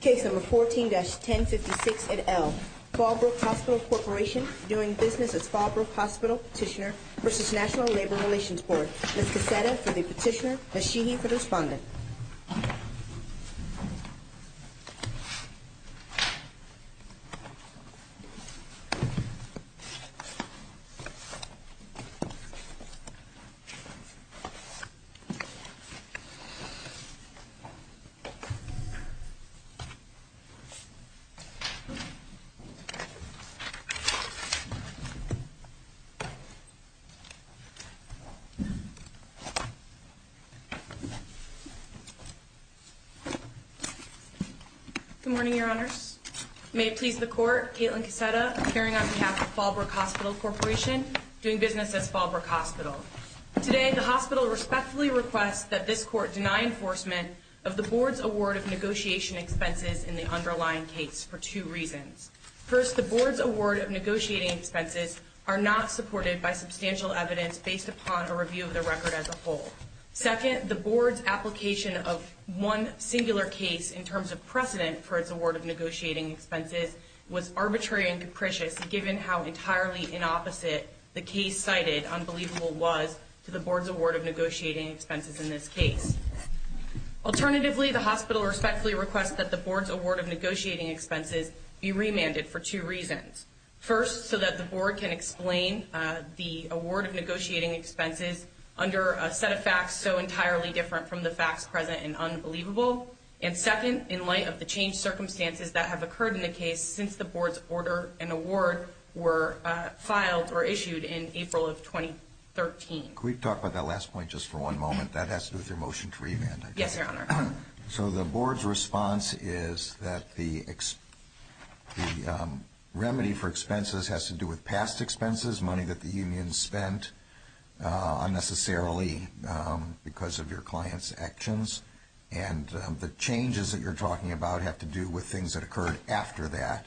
Case number 14-1056 at L. Fallbrook Hospital Corporation doing business as Fallbrook Hospital Petitioner v. National Labor Relations Board. Ms. Cassetta for the petitioner, Ms. Sheehy for the respondent. Good morning, your honors. May it please the court, Kaitlin Cassetta appearing on behalf of Fallbrook Hospital Corporation doing business as Fallbrook Hospital. Today, the hospital respectfully requests that this court deny enforcement of the board's award of negotiation expenses in the underlying case for two reasons. First, the board's award of negotiating expenses are not supported by substantial evidence based upon a review of the record as a whole. Second, the board's application of one singular case in terms of precedent for its award of negotiating expenses was arbitrary and capricious given how entirely inopposite the case cited unbelievable was to the board's award of negotiating expenses in this case. Alternatively, the hospital respectfully requests that the board's award of negotiating expenses be remanded for two reasons. First, so that the board can explain the award of negotiating expenses under a set of facts so entirely different from the facts present in unbelievable. And second, in light of the changed circumstances that have occurred in the case since the board's order and award were filed or issued in April of 2013. Could we talk about that last point just for one moment? That has to do with your motion to remand. Yes, your honor. So the board's response is that the remedy for expenses has to do with past expenses, money that the union spent unnecessarily because of your client's actions. And the changes that you're talking about have to do with things that occurred after that.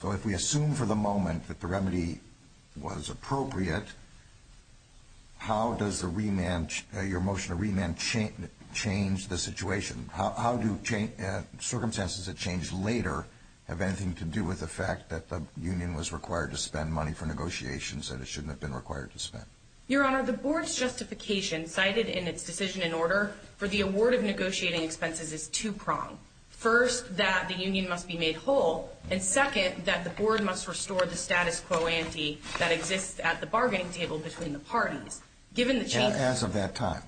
So if we assume for the moment that the remedy was appropriate, how does your motion to remand change the situation? How do circumstances that change later have anything to do with the fact that the union was required to spend money for negotiations that it shouldn't have been required to spend? Your honor, the board's justification cited in its decision in order for the award of negotiating expenses is two-pronged. First, that the union must be made whole, and second, that the board must restore the status quo ante that exists at the bargaining table between the parties. As of that time?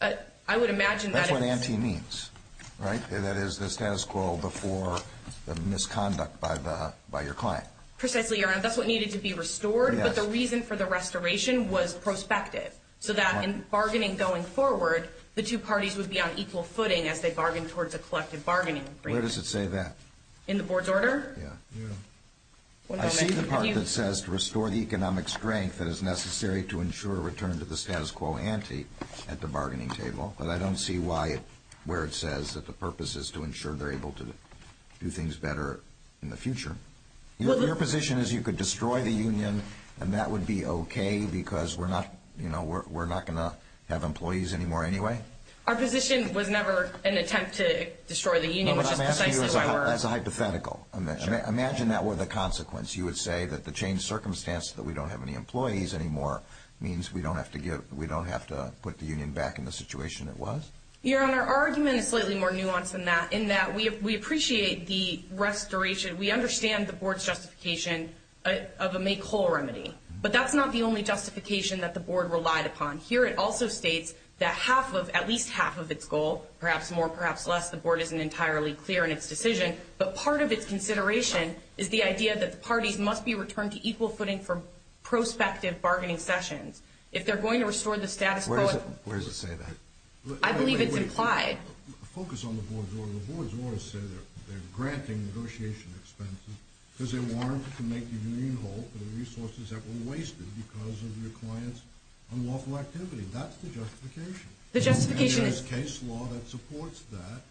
I would imagine that is... That's what ante means, right? That is the status quo before the misconduct by your client. Precisely, your honor. That's what needed to be restored, but the reason for the restoration was prospective. So that in bargaining going forward, the two parties would be on equal footing as they bargained towards a collective bargaining agreement. Where does it say that? In the board's order? Yeah. I see the part that says to restore the economic strength that is necessary to ensure a return to the status quo ante at the bargaining table, but I don't see where it says that the purpose is to ensure they're able to do things better in the future. Your position is you could destroy the union and that would be okay because we're not going to have employees anymore anyway? Our position was never an attempt to destroy the union, which is precisely why we're... No, but I'm asking you as a hypothetical. Imagine that were the consequence. You would say that the changed circumstance that we don't have any employees anymore means we don't have to put the union back in the situation it was? Your honor, our argument is slightly more nuanced than that in that we appreciate the restoration. We understand the board's justification of a make whole remedy, but that's not the only justification that the board relied upon. Here it also states that at least half of its goal, perhaps more, perhaps less, the board isn't entirely clear in its decision, but part of its consideration is the idea that the parties must be returned to equal footing for prospective bargaining sessions. If they're going to restore the status quo... Where does it say that? I believe it's implied. Focus on the board's order. The board's order says they're granting negotiation expenses because they warranted to make the union whole for the resources that were wasted because of your client's unlawful activity. That's the justification. The justification is... There's case law that supports that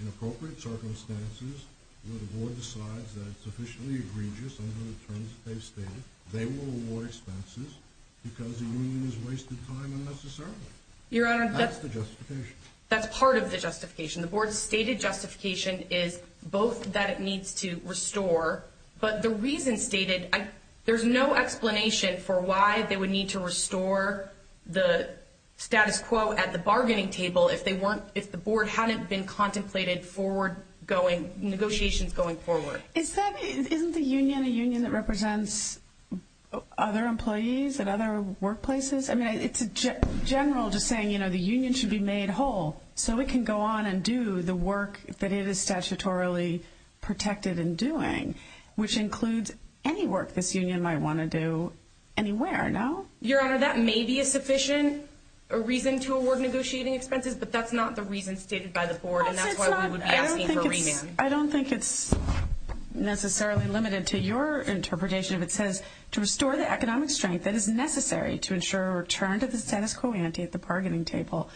in appropriate circumstances where the board decides that it's sufficiently egregious under the terms that they've stated. They will award expenses because the union has wasted time unnecessarily. That's the justification. That's part of the justification. The board's stated justification is both that it needs to restore, but the reason stated, there's no explanation for why they would need to restore the status quo at the bargaining table if the board hadn't been contemplated for negotiations going forward. Isn't the union a union that represents other employees and other workplaces? It's general just saying the union should be made whole so it can go on and do the work that it is statutorily protected in doing, which includes any work this union might want to do anywhere, no? Your Honor, that may be a sufficient reason to award negotiating expenses, but that's not the reason stated by the board, and that's why we would be asking for a remand. I don't think it's necessarily limited to your interpretation if it says, to restore the economic strength that is necessary to ensure a return to the status quo ante at the bargaining table.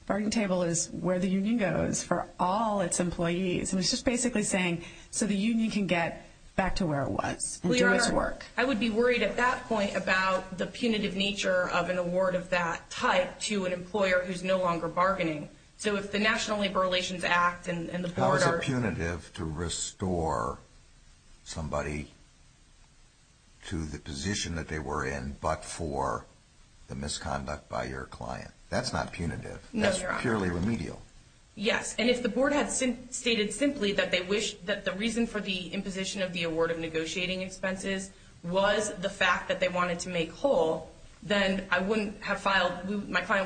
The bargaining table is where the union goes for all its employees, and it's just basically saying so the union can get back to where it was and do its work. Your Honor, I would be worried at that point about the punitive nature of an award of that type to an employer who's no longer bargaining. So if the National Labor Relations Act and the board are... How is it punitive to restore somebody to the position that they were in but for the misconduct by your client? That's not punitive. No, Your Honor. That's purely remedial. Yes, and if the board had stated simply that the reason for the imposition of the award of negotiating expenses was the fact that they wanted to make whole, then my client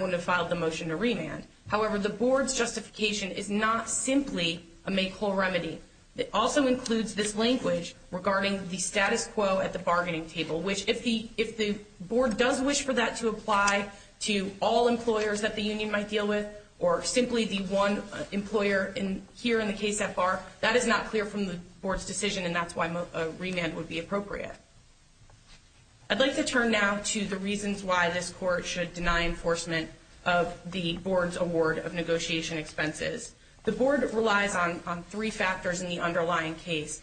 wouldn't have filed the motion to remand. However, the board's justification is not simply a make-whole remedy. It also includes this language regarding the status quo at the bargaining table, which if the board does wish for that to apply to all employers that the union might deal with or simply the one employer here in the case so far, that is not clear from the board's decision, and that's why a remand would be appropriate. I'd like to turn now to the reasons why this court should deny enforcement of the board's award of negotiation expenses. The board relies on three factors in the underlying case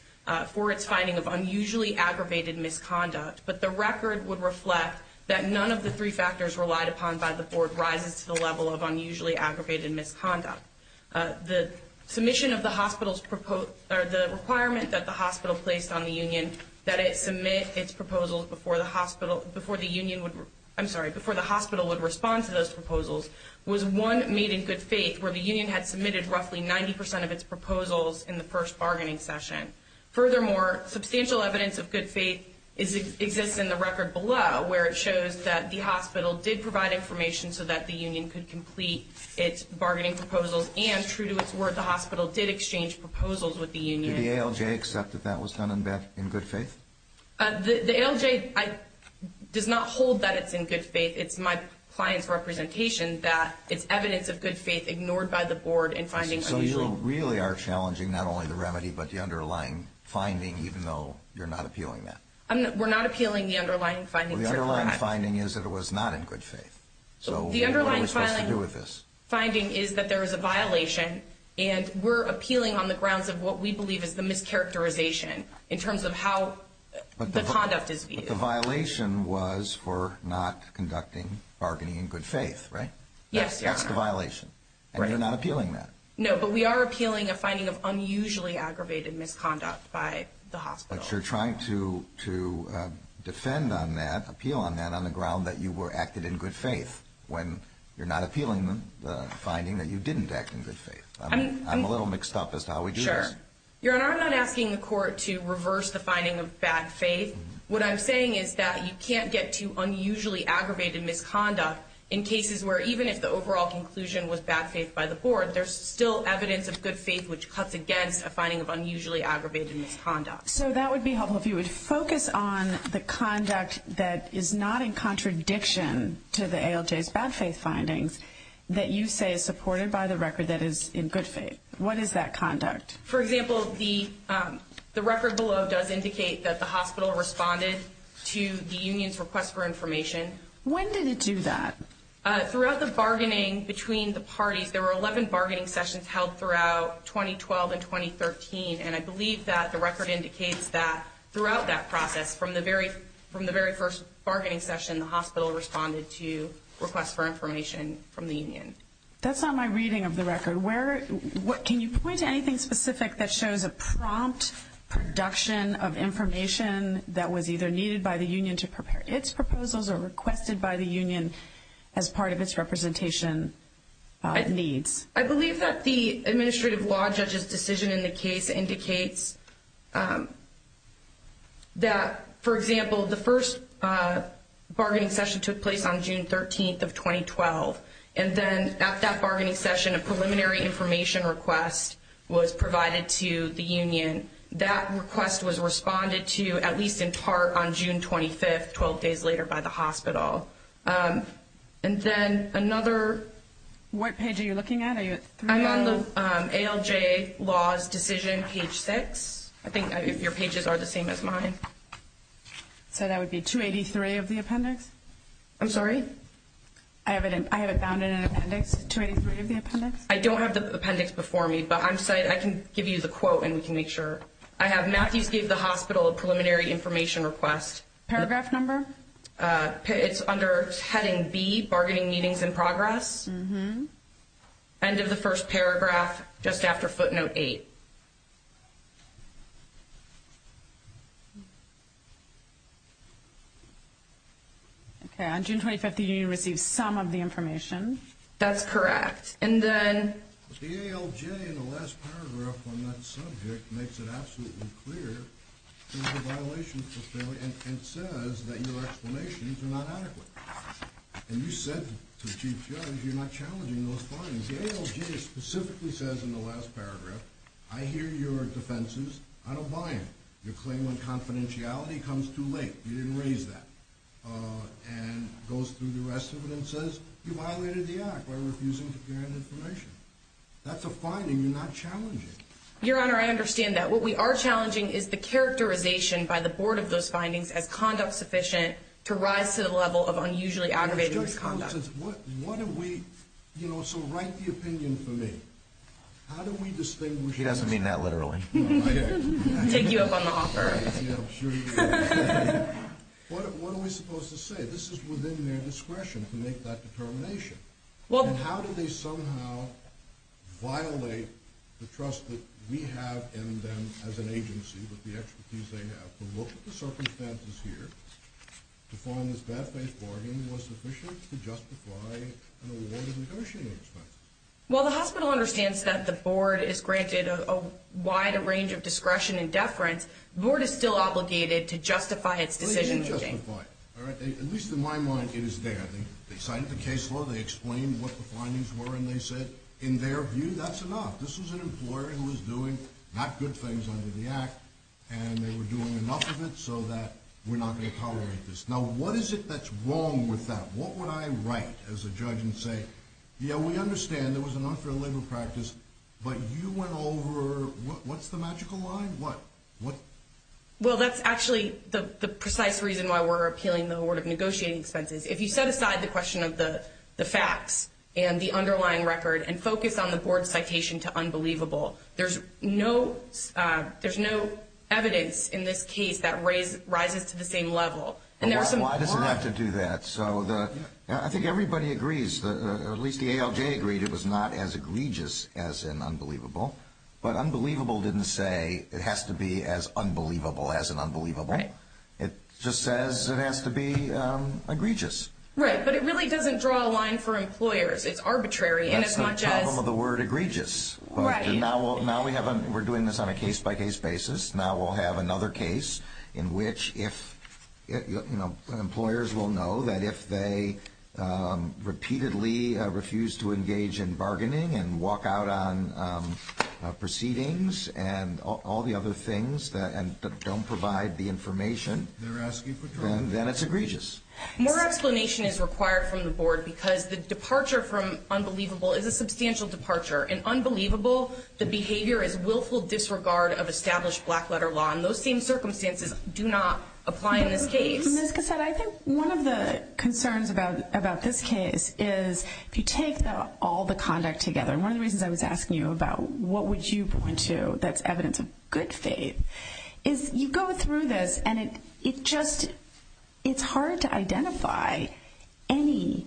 for its finding of unusually aggravated misconduct, but the record would reflect that none of the three factors relied upon by the board rises to the level of unusually aggravated misconduct. The requirement that the hospital placed on the union that it submit its proposals before the hospital would respond to those proposals was one made in good faith where the union had submitted roughly 90 percent of its proposals in the first bargaining session. Furthermore, substantial evidence of good faith exists in the record below where it shows that the hospital did provide information so that the union could complete its bargaining proposals and, true to its word, the hospital did exchange proposals with the union. Did the ALJ accept that that was done in good faith? The ALJ does not hold that it's in good faith. It's my client's representation that it's evidence of good faith ignored by the board in finding unusually. So you really are challenging not only the remedy but the underlying finding, even though you're not appealing that? We're not appealing the underlying finding. Well, the underlying finding is that it was not in good faith. So what are we supposed to do with this? The underlying finding is that there is a violation, and we're appealing on the grounds of what we believe is the mischaracterization in terms of how the conduct is viewed. But the violation was for not conducting bargaining in good faith, right? Yes, Your Honor. That's the violation, and you're not appealing that? No, but we are appealing a finding of unusually aggravated misconduct by the hospital. But you're trying to defend on that, appeal on that, on the ground that you acted in good faith when you're not appealing the finding that you didn't act in good faith. I'm a little mixed up as to how we do this. Sure. Your Honor, I'm not asking the court to reverse the finding of bad faith. What I'm saying is that you can't get to unusually aggravated misconduct in cases where, even if the overall conclusion was bad faith by the board, there's still evidence of good faith which cuts against a finding of unusually aggravated misconduct. So that would be helpful if you would focus on the conduct that is not in contradiction to the ALJ's bad faith findings that you say is supported by the record that is in good faith. What is that conduct? For example, the record below does indicate that the hospital responded to the union's request for information. When did it do that? Throughout the bargaining between the parties, there were 11 bargaining sessions held throughout 2012 and 2013, and I believe that the record indicates that throughout that process, from the very first bargaining session, the hospital responded to requests for information from the union. That's not my reading of the record. Can you point to anything specific that shows a prompt production of information that was either needed by the union to prepare its proposals or requested by the union as part of its representation needs? I believe that the administrative law judge's decision in the case indicates that, for example, the first bargaining session took place on June 13th of 2012, and then at that bargaining session a preliminary information request was provided to the union. That request was responded to at least in part on June 25th, 12 days later, by the hospital. And then another... What page are you looking at? I'm on the ALJ laws decision, page 6. I think your pages are the same as mine. So that would be 283 of the appendix? I'm sorry? I have it found in an appendix, 283 of the appendix? I don't have the appendix before me, but I can give you the quote and we can make sure. I have Matthews gave the hospital a preliminary information request. Paragraph number? It's under heading B, bargaining meetings in progress. End of the first paragraph, just after footnote 8. Okay, on June 25th the union received some of the information. That's correct. The ALJ, in the last paragraph on that subject, makes it absolutely clear there's a violation, and says that your explanations are not adequate. And you said to the Chief Judge you're not challenging those findings. The ALJ specifically says in the last paragraph, I hear your defenses, I don't buy them. Your claim on confidentiality comes too late, you didn't raise that. And goes through the rest of it and says you violated the act by refusing to provide information. That's a finding, you're not challenging it. Your Honor, I understand that. What we are challenging is the characterization by the board of those findings as conduct sufficient to rise to the level of unusually aggravated misconduct. What are we, you know, so write the opinion for me. How do we distinguish? He doesn't mean that literally. Take you up on the offer. Yeah, I'm sure he does. What are we supposed to say? This is within their discretion to make that determination. And how do they somehow violate the trust that we have in them as an agency with the expertise they have to look at the circumstances here to find this bad faith bargain was sufficient to justify an award of negotiating expenses. While the hospital understands that the board is granted a wide range of discretion and deference, the board is still obligated to justify its decision. At least in my mind, it is there. They signed the case law, they explained what the findings were, and they said in their view that's enough. This was an employer who was doing not good things under the act, and they were doing enough of it so that we're not going to tolerate this. Now, what is it that's wrong with that? What would I write as a judge and say, yeah, we understand there was an unfair labor practice, but you went over, what's the magical line? Well, that's actually the precise reason why we're appealing the award of negotiating expenses. If you set aside the question of the facts and the underlying record and focus on the board's citation to unbelievable, there's no evidence in this case that rises to the same level. Why does it have to do that? I think everybody agrees, at least the ALJ agreed it was not as egregious as an unbelievable, but unbelievable didn't say it has to be as unbelievable as an unbelievable. It just says it has to be egregious. Right, but it really doesn't draw a line for employers. It's arbitrary. That's not the problem of the word egregious. Right. Now we're doing this on a case-by-case basis. Now we'll have another case in which employers will know that if they repeatedly refuse to engage in bargaining and walk out on proceedings and all the other things that don't provide the information, then it's egregious. More explanation is required from the board because the departure from unbelievable is a substantial departure, and unbelievable, the behavior is willful disregard of established black-letter law, and those same circumstances do not apply in this case. Ms. Cassata, I think one of the concerns about this case is if you take all the conduct together, and one of the reasons I was asking you about what would you point to that's evidence of good faith, is you go through this and it's hard to identify any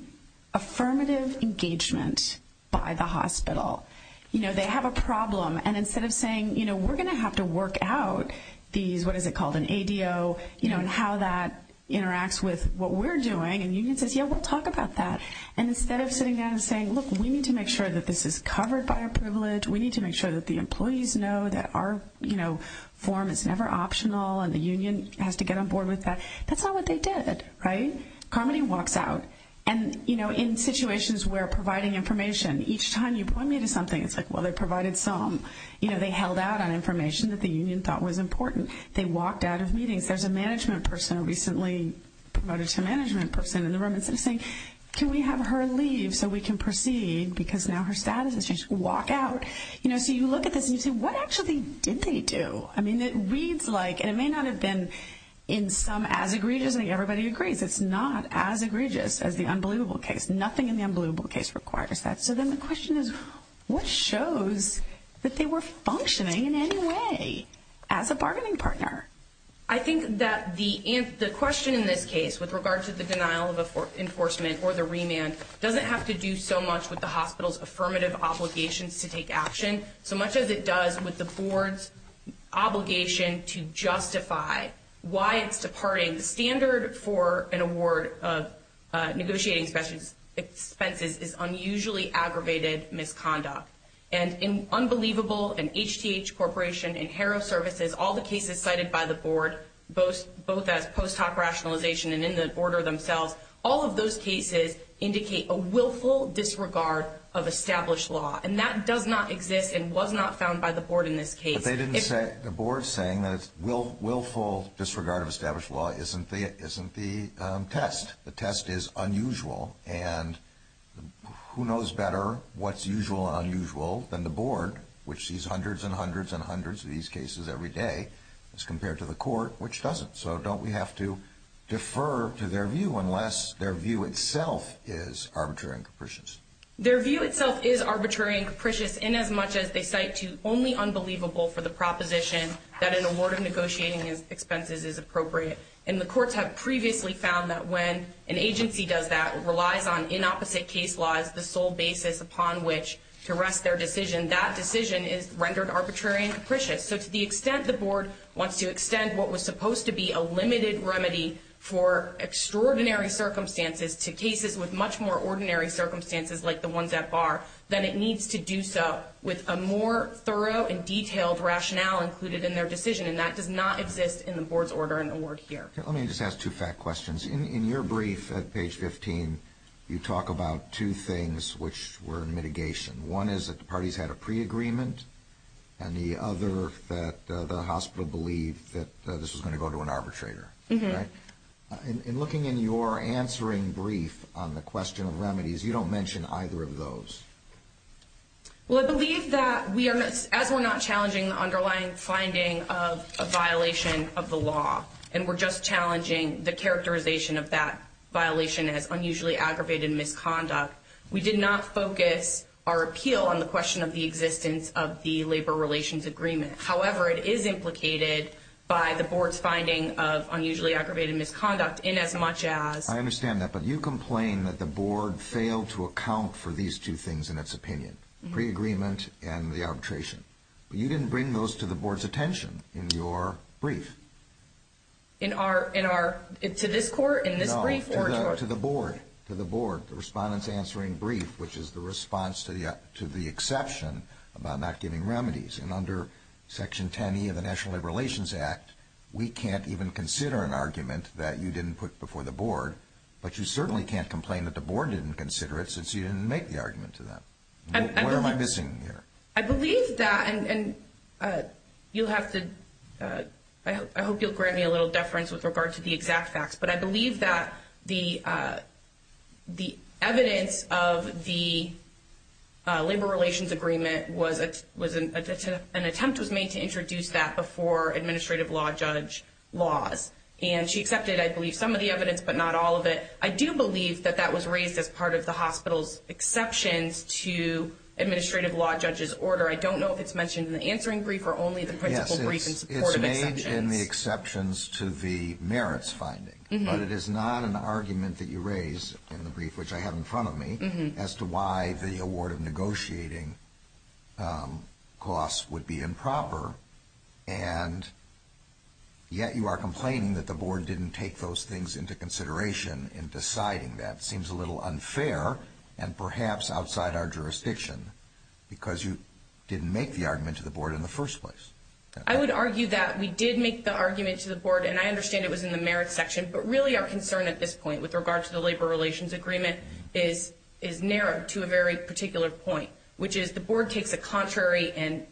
affirmative engagement by the hospital. They have a problem, and instead of saying we're going to have to work out these, what is it called, an ADO, and how that interacts with what we're doing, and the union says, yeah, we'll talk about that. And instead of sitting down and saying, look, we need to make sure that this is covered by our privilege, we need to make sure that the employees know that our form is never optional, and the union has to get on board with that, that's not what they did. Right. Carmody walks out, and in situations where providing information, each time you point me to something, it's like, well, they provided some. They held out on information that the union thought was important. They walked out of meetings. There's a management person who recently provided to a management person in the room, and instead of saying, can we have her leave so we can proceed, because now her status has changed, walk out. So you look at this and you say, what actually did they do? I mean, it reads like, and it may not have been in some as egregious, I think everybody agrees, it's not as egregious as the unbelievable case. Nothing in the unbelievable case requires that. So then the question is, what shows that they were functioning in any way as a bargaining partner? I think that the question in this case with regard to the denial of enforcement or the remand doesn't have to do so much with the hospital's affirmative obligations to take action so much as it does with the board's obligation to justify why it's departing. I mean, the standard for an award of negotiating expenses is unusually aggravated misconduct. And in unbelievable, in HTH Corporation, in Haro Services, all the cases cited by the board, both as post hoc rationalization and in the order themselves, all of those cases indicate a willful disregard of established law. And that does not exist and was not found by the board in this case. But the board's saying that willful disregard of established law isn't the test. The test is unusual. And who knows better what's usual and unusual than the board, which sees hundreds and hundreds and hundreds of these cases every day as compared to the court, which doesn't. So don't we have to defer to their view unless their view itself is arbitrary and capricious? Their view itself is arbitrary and capricious in as much as they cite to only unbelievable for the proposition that an award of negotiating expenses is appropriate. And the courts have previously found that when an agency does that, relies on inopposite case laws, the sole basis upon which to rest their decision, that decision is rendered arbitrary and capricious. So to the extent the board wants to extend what was supposed to be a limited remedy for extraordinary circumstances to cases with much more ordinary circumstances like the ones at bar, then it needs to do so with a more thorough and detailed rationale included in their decision. And that does not exist in the board's order and award here. Let me just ask two fact questions. In your brief at page 15, you talk about two things which were in mitigation. One is that the parties had a pre-agreement, and the other that the hospital believed that this was going to go to an arbitrator. In looking in your answering brief on the question of remedies, you don't mention either of those. Well, I believe that as we're not challenging the underlying finding of a violation of the law and we're just challenging the characterization of that violation as unusually aggravated misconduct, we did not focus our appeal on the question of the existence of the labor relations agreement. However, it is implicated by the board's finding of unusually aggravated misconduct in as much as— I understand that. But you complain that the board failed to account for these two things in its opinion, pre-agreement and the arbitration. But you didn't bring those to the board's attention in your brief. In our—to this court? In this brief? No, to the board. To the board. The respondent's answering brief, which is the response to the exception about not giving remedies. And under Section 10E of the National Labor Relations Act, we can't even consider an argument that you didn't put before the board. But you certainly can't complain that the board didn't consider it since you didn't make the argument to them. What am I missing here? I believe that—and you'll have to—I hope you'll grant me a little deference with regard to the exact facts. But I believe that the evidence of the labor relations agreement was— an attempt was made to introduce that before administrative law judge laws. And she accepted, I believe, some of the evidence but not all of it. I do believe that that was raised as part of the hospital's exceptions to administrative law judge's order. I don't know if it's mentioned in the answering brief or only the principal brief in support of exceptions. In the exceptions to the merits finding. But it is not an argument that you raise in the brief, which I have in front of me, as to why the award of negotiating costs would be improper. And yet you are complaining that the board didn't take those things into consideration in deciding that. It seems a little unfair and perhaps outside our jurisdiction because you didn't make the argument to the board in the first place. I would argue that we did make the argument to the board. And I understand it was in the merits section. But really our concern at this point with regard to the labor relations agreement is narrowed to a very particular point, which is the board takes a contrary and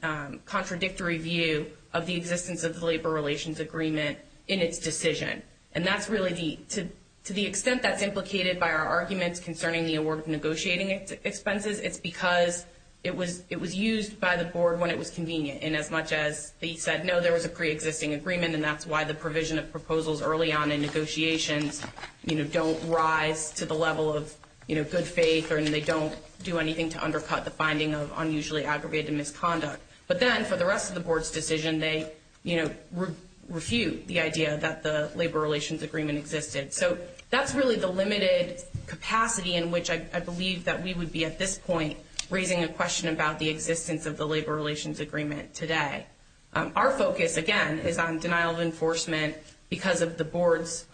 contradictory view of the existence of the labor relations agreement in its decision. And that's really the—to the extent that's implicated by our arguments concerning the award of negotiating expenses, it's because it was used by the board when it was convenient. And as much as they said, no, there was a preexisting agreement, and that's why the provision of proposals early on in negotiations, you know, don't rise to the level of, you know, good faith or they don't do anything to undercut the finding of unusually aggravated misconduct. But then for the rest of the board's decision, they, you know, refute the idea that the labor relations agreement existed. So that's really the limited capacity in which I believe that we would be at this point raising a question about the existence of the labor relations agreement today. Our focus, again, is on denial of enforcement because of the board's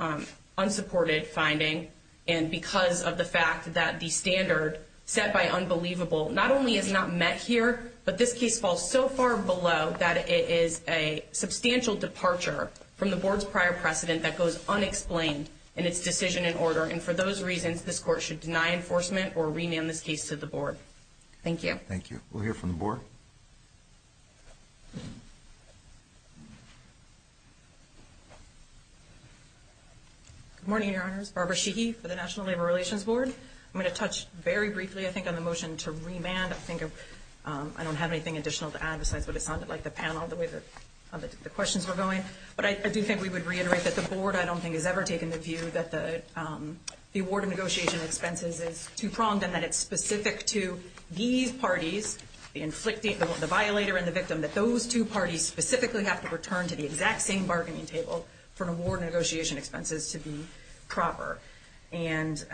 unsupported finding and because of the fact that the standard set by unbelievable not only is not met here, but this case falls so far below that it is a substantial departure from the board's prior precedent that goes unexplained in its decision in order. And for those reasons, this court should deny enforcement or remand this case to the board. Thank you. Thank you. We'll hear from the board. Good morning, Your Honors. Barbara Sheehy for the National Labor Relations Board. I'm going to touch very briefly, I think, on the motion to remand. I think I don't have anything additional to add besides what it sounded like, the panel, the way the questions were going. But I do think we would reiterate that the board, I don't think, has ever taken the view that the award of negotiation expenses is too pronged and that it's specific to these parties, the inflicting, the violator and the victim, that those two parties specifically have to return to the exact same bargaining table for an award of negotiation expenses to be proper. And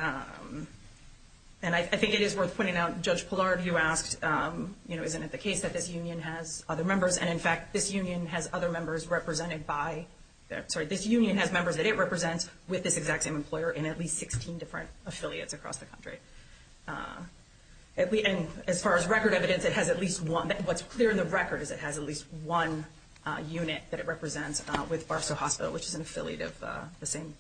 I think it is worth pointing out, Judge Pillar, you asked, you know, isn't it the case that this union has other members? And, in fact, this union has other members represented by, sorry, this union has members that it represents with this exact same employer in at least 16 different affiliates across the country. And as far as record evidence, it has at least one. What's clear in the record is it has at least one unit that it represents with Barstow Hospital, which is an affiliate of the same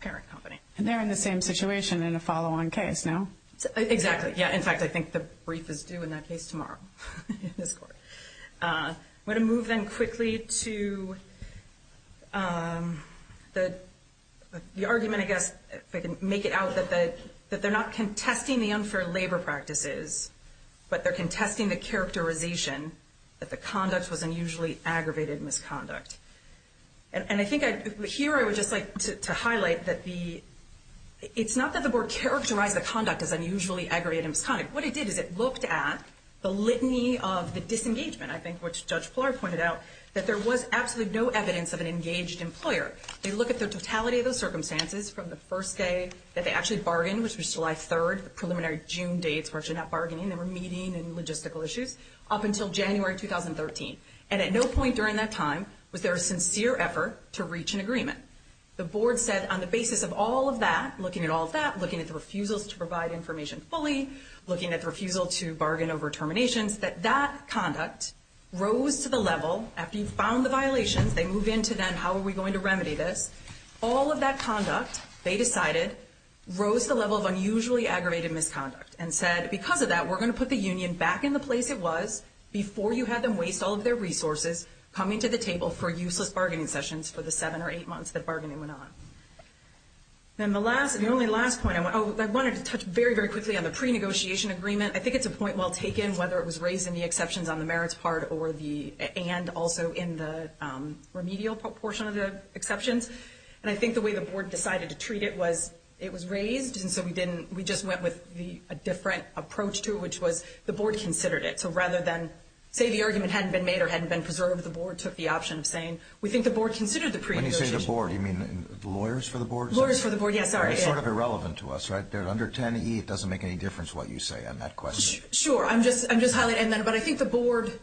parent company. And they're in the same situation in a follow-on case, no? Exactly. Yeah, in fact, I think the brief is due in that case tomorrow in this court. I'm going to move then quickly to the argument, I guess, if I can make it out, that they're not contesting the unfair labor practices, but they're contesting the characterization that the conduct was unusually aggravated misconduct. And I think here I would just like to highlight that it's not that the board didn't characterize the conduct as unusually aggravated misconduct. What it did is it looked at the litany of the disengagement, I think, which Judge Pillar pointed out, that there was absolutely no evidence of an engaged employer. They look at the totality of those circumstances from the first day that they actually bargained, which was July 3rd, the preliminary June dates were actually not bargaining, they were meeting and logistical issues, up until January 2013. And at no point during that time was there a sincere effort to reach an agreement. The board said on the basis of all of that, looking at all of that, looking at the refusals to provide information fully, looking at the refusal to bargain over terminations, that that conduct rose to the level, after you found the violations, they move into then how are we going to remedy this, all of that conduct, they decided, rose to the level of unusually aggravated misconduct and said, because of that, we're going to put the union back in the place it was before you had them waste all of their resources coming to the table for useless bargaining sessions for the seven or eight months that bargaining went on. And the only last point, I wanted to touch very, very quickly on the pre-negotiation agreement. I think it's a point well taken, whether it was raised in the exceptions on the merits part and also in the remedial portion of the exceptions. And I think the way the board decided to treat it was it was raised, and so we just went with a different approach to it, which was the board considered it. So rather than say the argument hadn't been made or hadn't been preserved, the board took the option of saying we think the board considered the pre-negotiation agreement. When you say the board, do you mean the lawyers for the board? Lawyers for the board, yes. Sorry. It's sort of irrelevant to us, right? They're under 10E. It doesn't make any difference what you say on that question. Sure. I'm just highlighting that. But I think the board,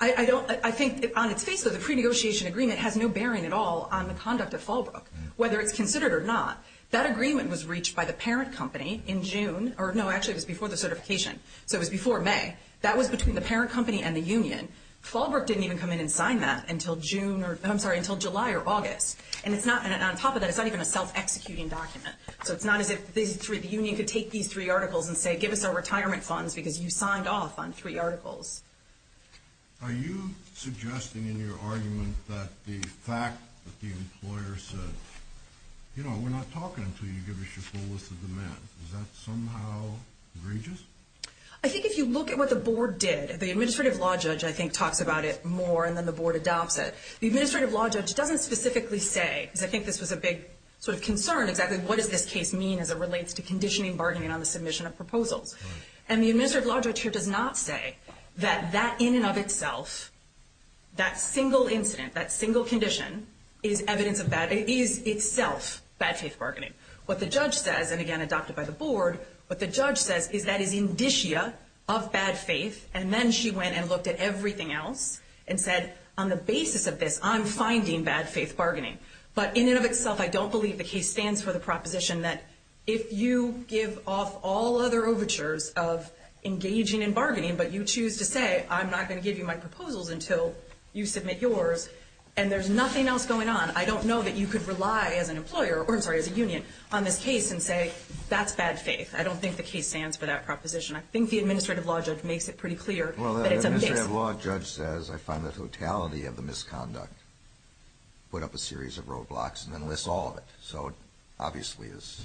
I think on its face, though, the pre-negotiation agreement has no bearing at all on the conduct of Fallbrook, whether it's considered or not. That agreement was reached by the parent company in June. No, actually it was before the certification, so it was before May. That was between the parent company and the union. Fallbrook didn't even come in and sign that until July or August. And on top of that, it's not even a self-executing document. So it's not as if the union could take these three articles and say, give us our retirement funds because you signed off on three articles. Are you suggesting in your argument that the fact that the employer said, you know, we're not talking until you give us your full list of demands, is that somehow egregious? I think if you look at what the board did, the administrative law judge, I think, talks about it more and then the board adopts it. The administrative law judge doesn't specifically say, because I think this was a big sort of concern, exactly what does this case mean as it relates to conditioning bargaining on the submission of proposals. And the administrative law judge here does not say that that in and of itself, that single incident, that single condition, is evidence of bad faith, is itself bad faith bargaining. What the judge says, and again adopted by the board, what the judge says is that is indicia of bad faith, and then she went and looked at everything else and said, on the basis of this, I'm finding bad faith bargaining. But in and of itself, I don't believe the case stands for the proposition that if you give off all other overtures of engaging in bargaining, but you choose to say, I'm not going to give you my proposals until you submit yours, and there's nothing else going on, I don't know that you could rely as an employer, or I'm sorry, as a union, on this case and say, that's bad faith. I don't think the case stands for that proposition. I think the administrative law judge makes it pretty clear that it's a case. Well, the administrative law judge says, I find the totality of the misconduct, put up a series of roadblocks, and then lists all of it. So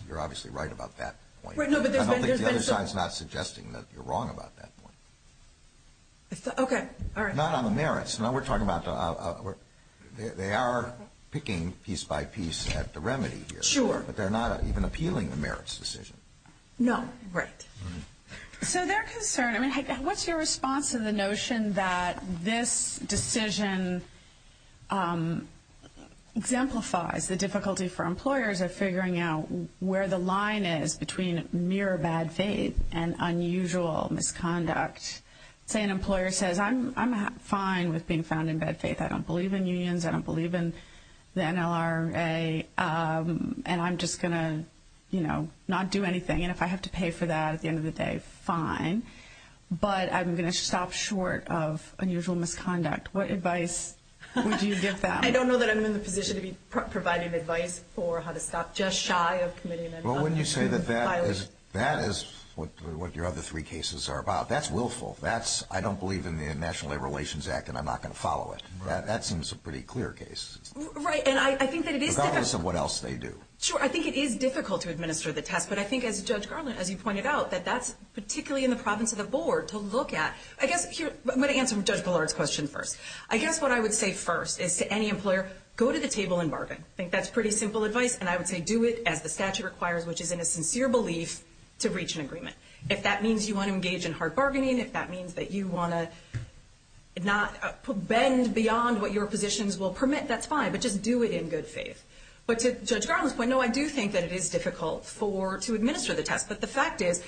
you're obviously right about that point. I don't think the other side is not suggesting that you're wrong about that point. Okay. All right. Not on the merits. We're talking about they are picking piece by piece at the remedy here. Sure. But they're not even appealing the merits decision. No. Right. So their concern, I mean, what's your response to the notion that this decision exemplifies the difficulty for employers of figuring out where the line is between mere bad faith and unusual misconduct? Say an employer says, I'm fine with being found in bad faith, I don't believe in unions, I don't believe in the NLRA, and I'm just going to, you know, not do anything. And if I have to pay for that at the end of the day, fine. But I'm going to stop short of unusual misconduct. What advice would you give them? I don't know that I'm in the position to be providing advice for how to stop just shy of committing an unusual violation. Well, wouldn't you say that that is what your other three cases are about? That's willful. That's, I don't believe in the National Labor Relations Act and I'm not going to follow it. That seems a pretty clear case. Right. And I think that it is difficult. Regardless of what else they do. Sure. I think it is difficult to administer the test. But I think as Judge Garland, as you pointed out, that that's particularly in the province of the board to look at. I guess here, I'm going to answer Judge Ballard's question first. I guess what I would say first is to any employer, go to the table and bargain. I think that's pretty simple advice. If that means you want to engage in hard bargaining, if that means that you want to bend beyond what your positions will permit, that's fine. But just do it in good faith. But to Judge Garland's point, no, I do think that it is difficult to administer the test. But the fact is,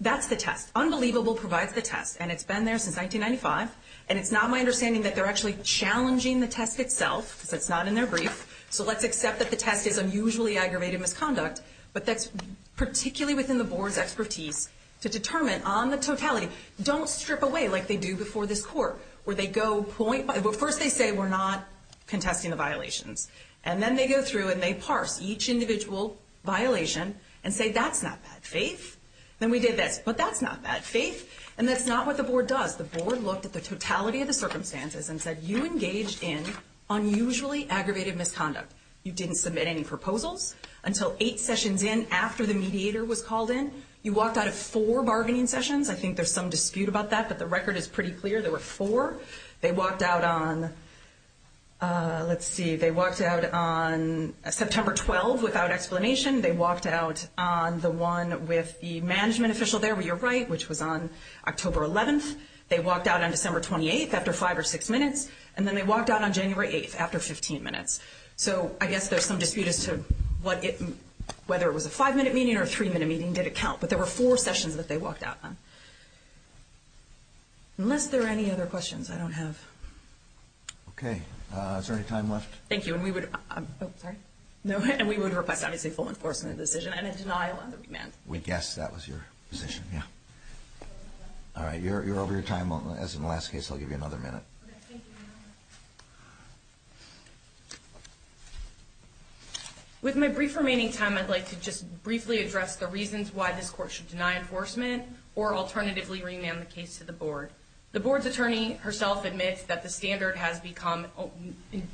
that's the test. Unbelievable provides the test. And it's been there since 1995. And it's not my understanding that they're actually challenging the test itself. Because it's not in their brief. So let's accept that the test is unusually aggravated misconduct. But that's particularly within the board's expertise to determine on the totality. Don't strip away like they do before this court. Where they go point by – well, first they say, we're not contesting the violations. And then they go through and they parse each individual violation and say, that's not bad faith. Then we did this. But that's not bad faith. And that's not what the board does. The board looked at the totality of the circumstances and said, you engaged in unusually aggravated misconduct. You didn't submit any proposals until eight sessions in after the mediator was called in. You walked out of four bargaining sessions. I think there's some dispute about that. But the record is pretty clear. There were four. They walked out on – let's see. They walked out on September 12th without explanation. They walked out on the one with the management official there, where you're right, which was on October 11th. They walked out on December 28th after five or six minutes. And then they walked out on January 8th after 15 minutes. So I guess there's some dispute as to whether it was a five-minute meeting or a three-minute meeting. Did it count? But there were four sessions that they walked out on. Unless there are any other questions, I don't have. Okay. Is there any time left? Thank you. And we would request, obviously, full enforcement of the decision and a denial of the remand. Yes, that was your position. Yeah. All right. You're over your time. As in the last case, I'll give you another minute. Okay. Thank you, Your Honor. With my brief remaining time, I'd like to just briefly address the reasons why this court should deny enforcement or alternatively remand the case to the board. The board's attorney herself admits that the standard has become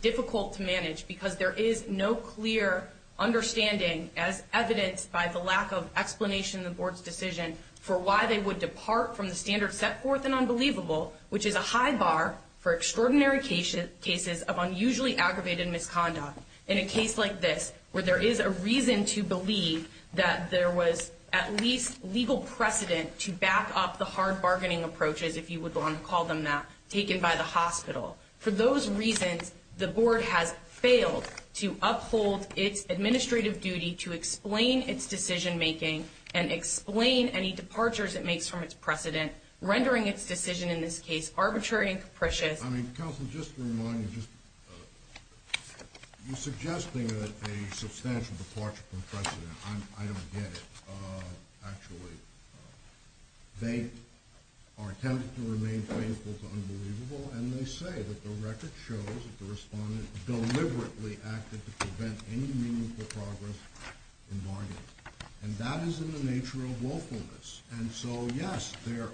difficult to manage because there is no clear understanding, as evidenced by the lack of explanation in the board's decision, for why they would depart from the standard set forth in Unbelievable, which is a high bar for extraordinary cases of unusually aggravated misconduct. In a case like this, where there is a reason to believe that there was at least legal precedent to back up the hard bargaining approaches, if you would want to call them that, taken by the hospital. For those reasons, the board has failed to uphold its administrative duty to explain its decision-making and explain any departures it makes from its precedent, rendering its decision in this case arbitrary and capricious. Counsel, just to remind you, you're suggesting a substantial departure from precedent. I don't get it, actually. They are attempting to remain faithful to Unbelievable, and they say that the record shows that the respondent deliberately acted to prevent any meaningful progress in bargaining. And that is in the nature of lawfulness. And so, yes, there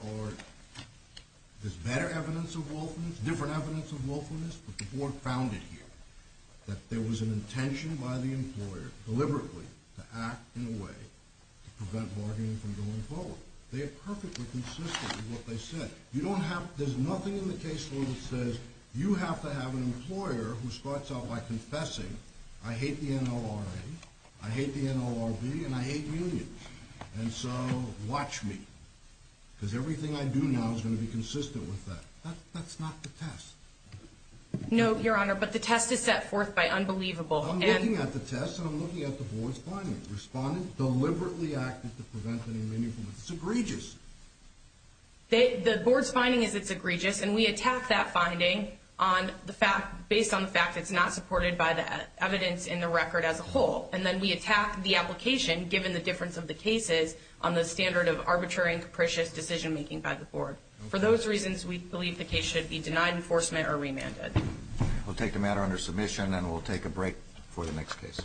is better evidence of lawfulness, different evidence of lawfulness, but the board found it here, that there was an intention by the employer, deliberately, to act in a way to prevent bargaining from going forward. They are perfectly consistent with what they said. There's nothing in the case law that says you have to have an employer who starts out by confessing, I hate the NLRA, I hate the NLRB, and I hate unions. And so, watch me, because everything I do now is going to be consistent with that. That's not the test. No, Your Honor, but the test is set forth by Unbelievable. I'm looking at the test, and I'm looking at the board's findings. Respondent deliberately acted to prevent any meaningful progress. It's egregious. The board's finding is it's egregious, and we attack that finding based on the fact it's not supported by the evidence in the record as a whole. And then we attack the application, given the difference of the cases, on the standard of arbitrary and capricious decision-making by the board. For those reasons, we believe the case should be denied enforcement or remanded. We'll take the matter under submission, and we'll take a break for the next case.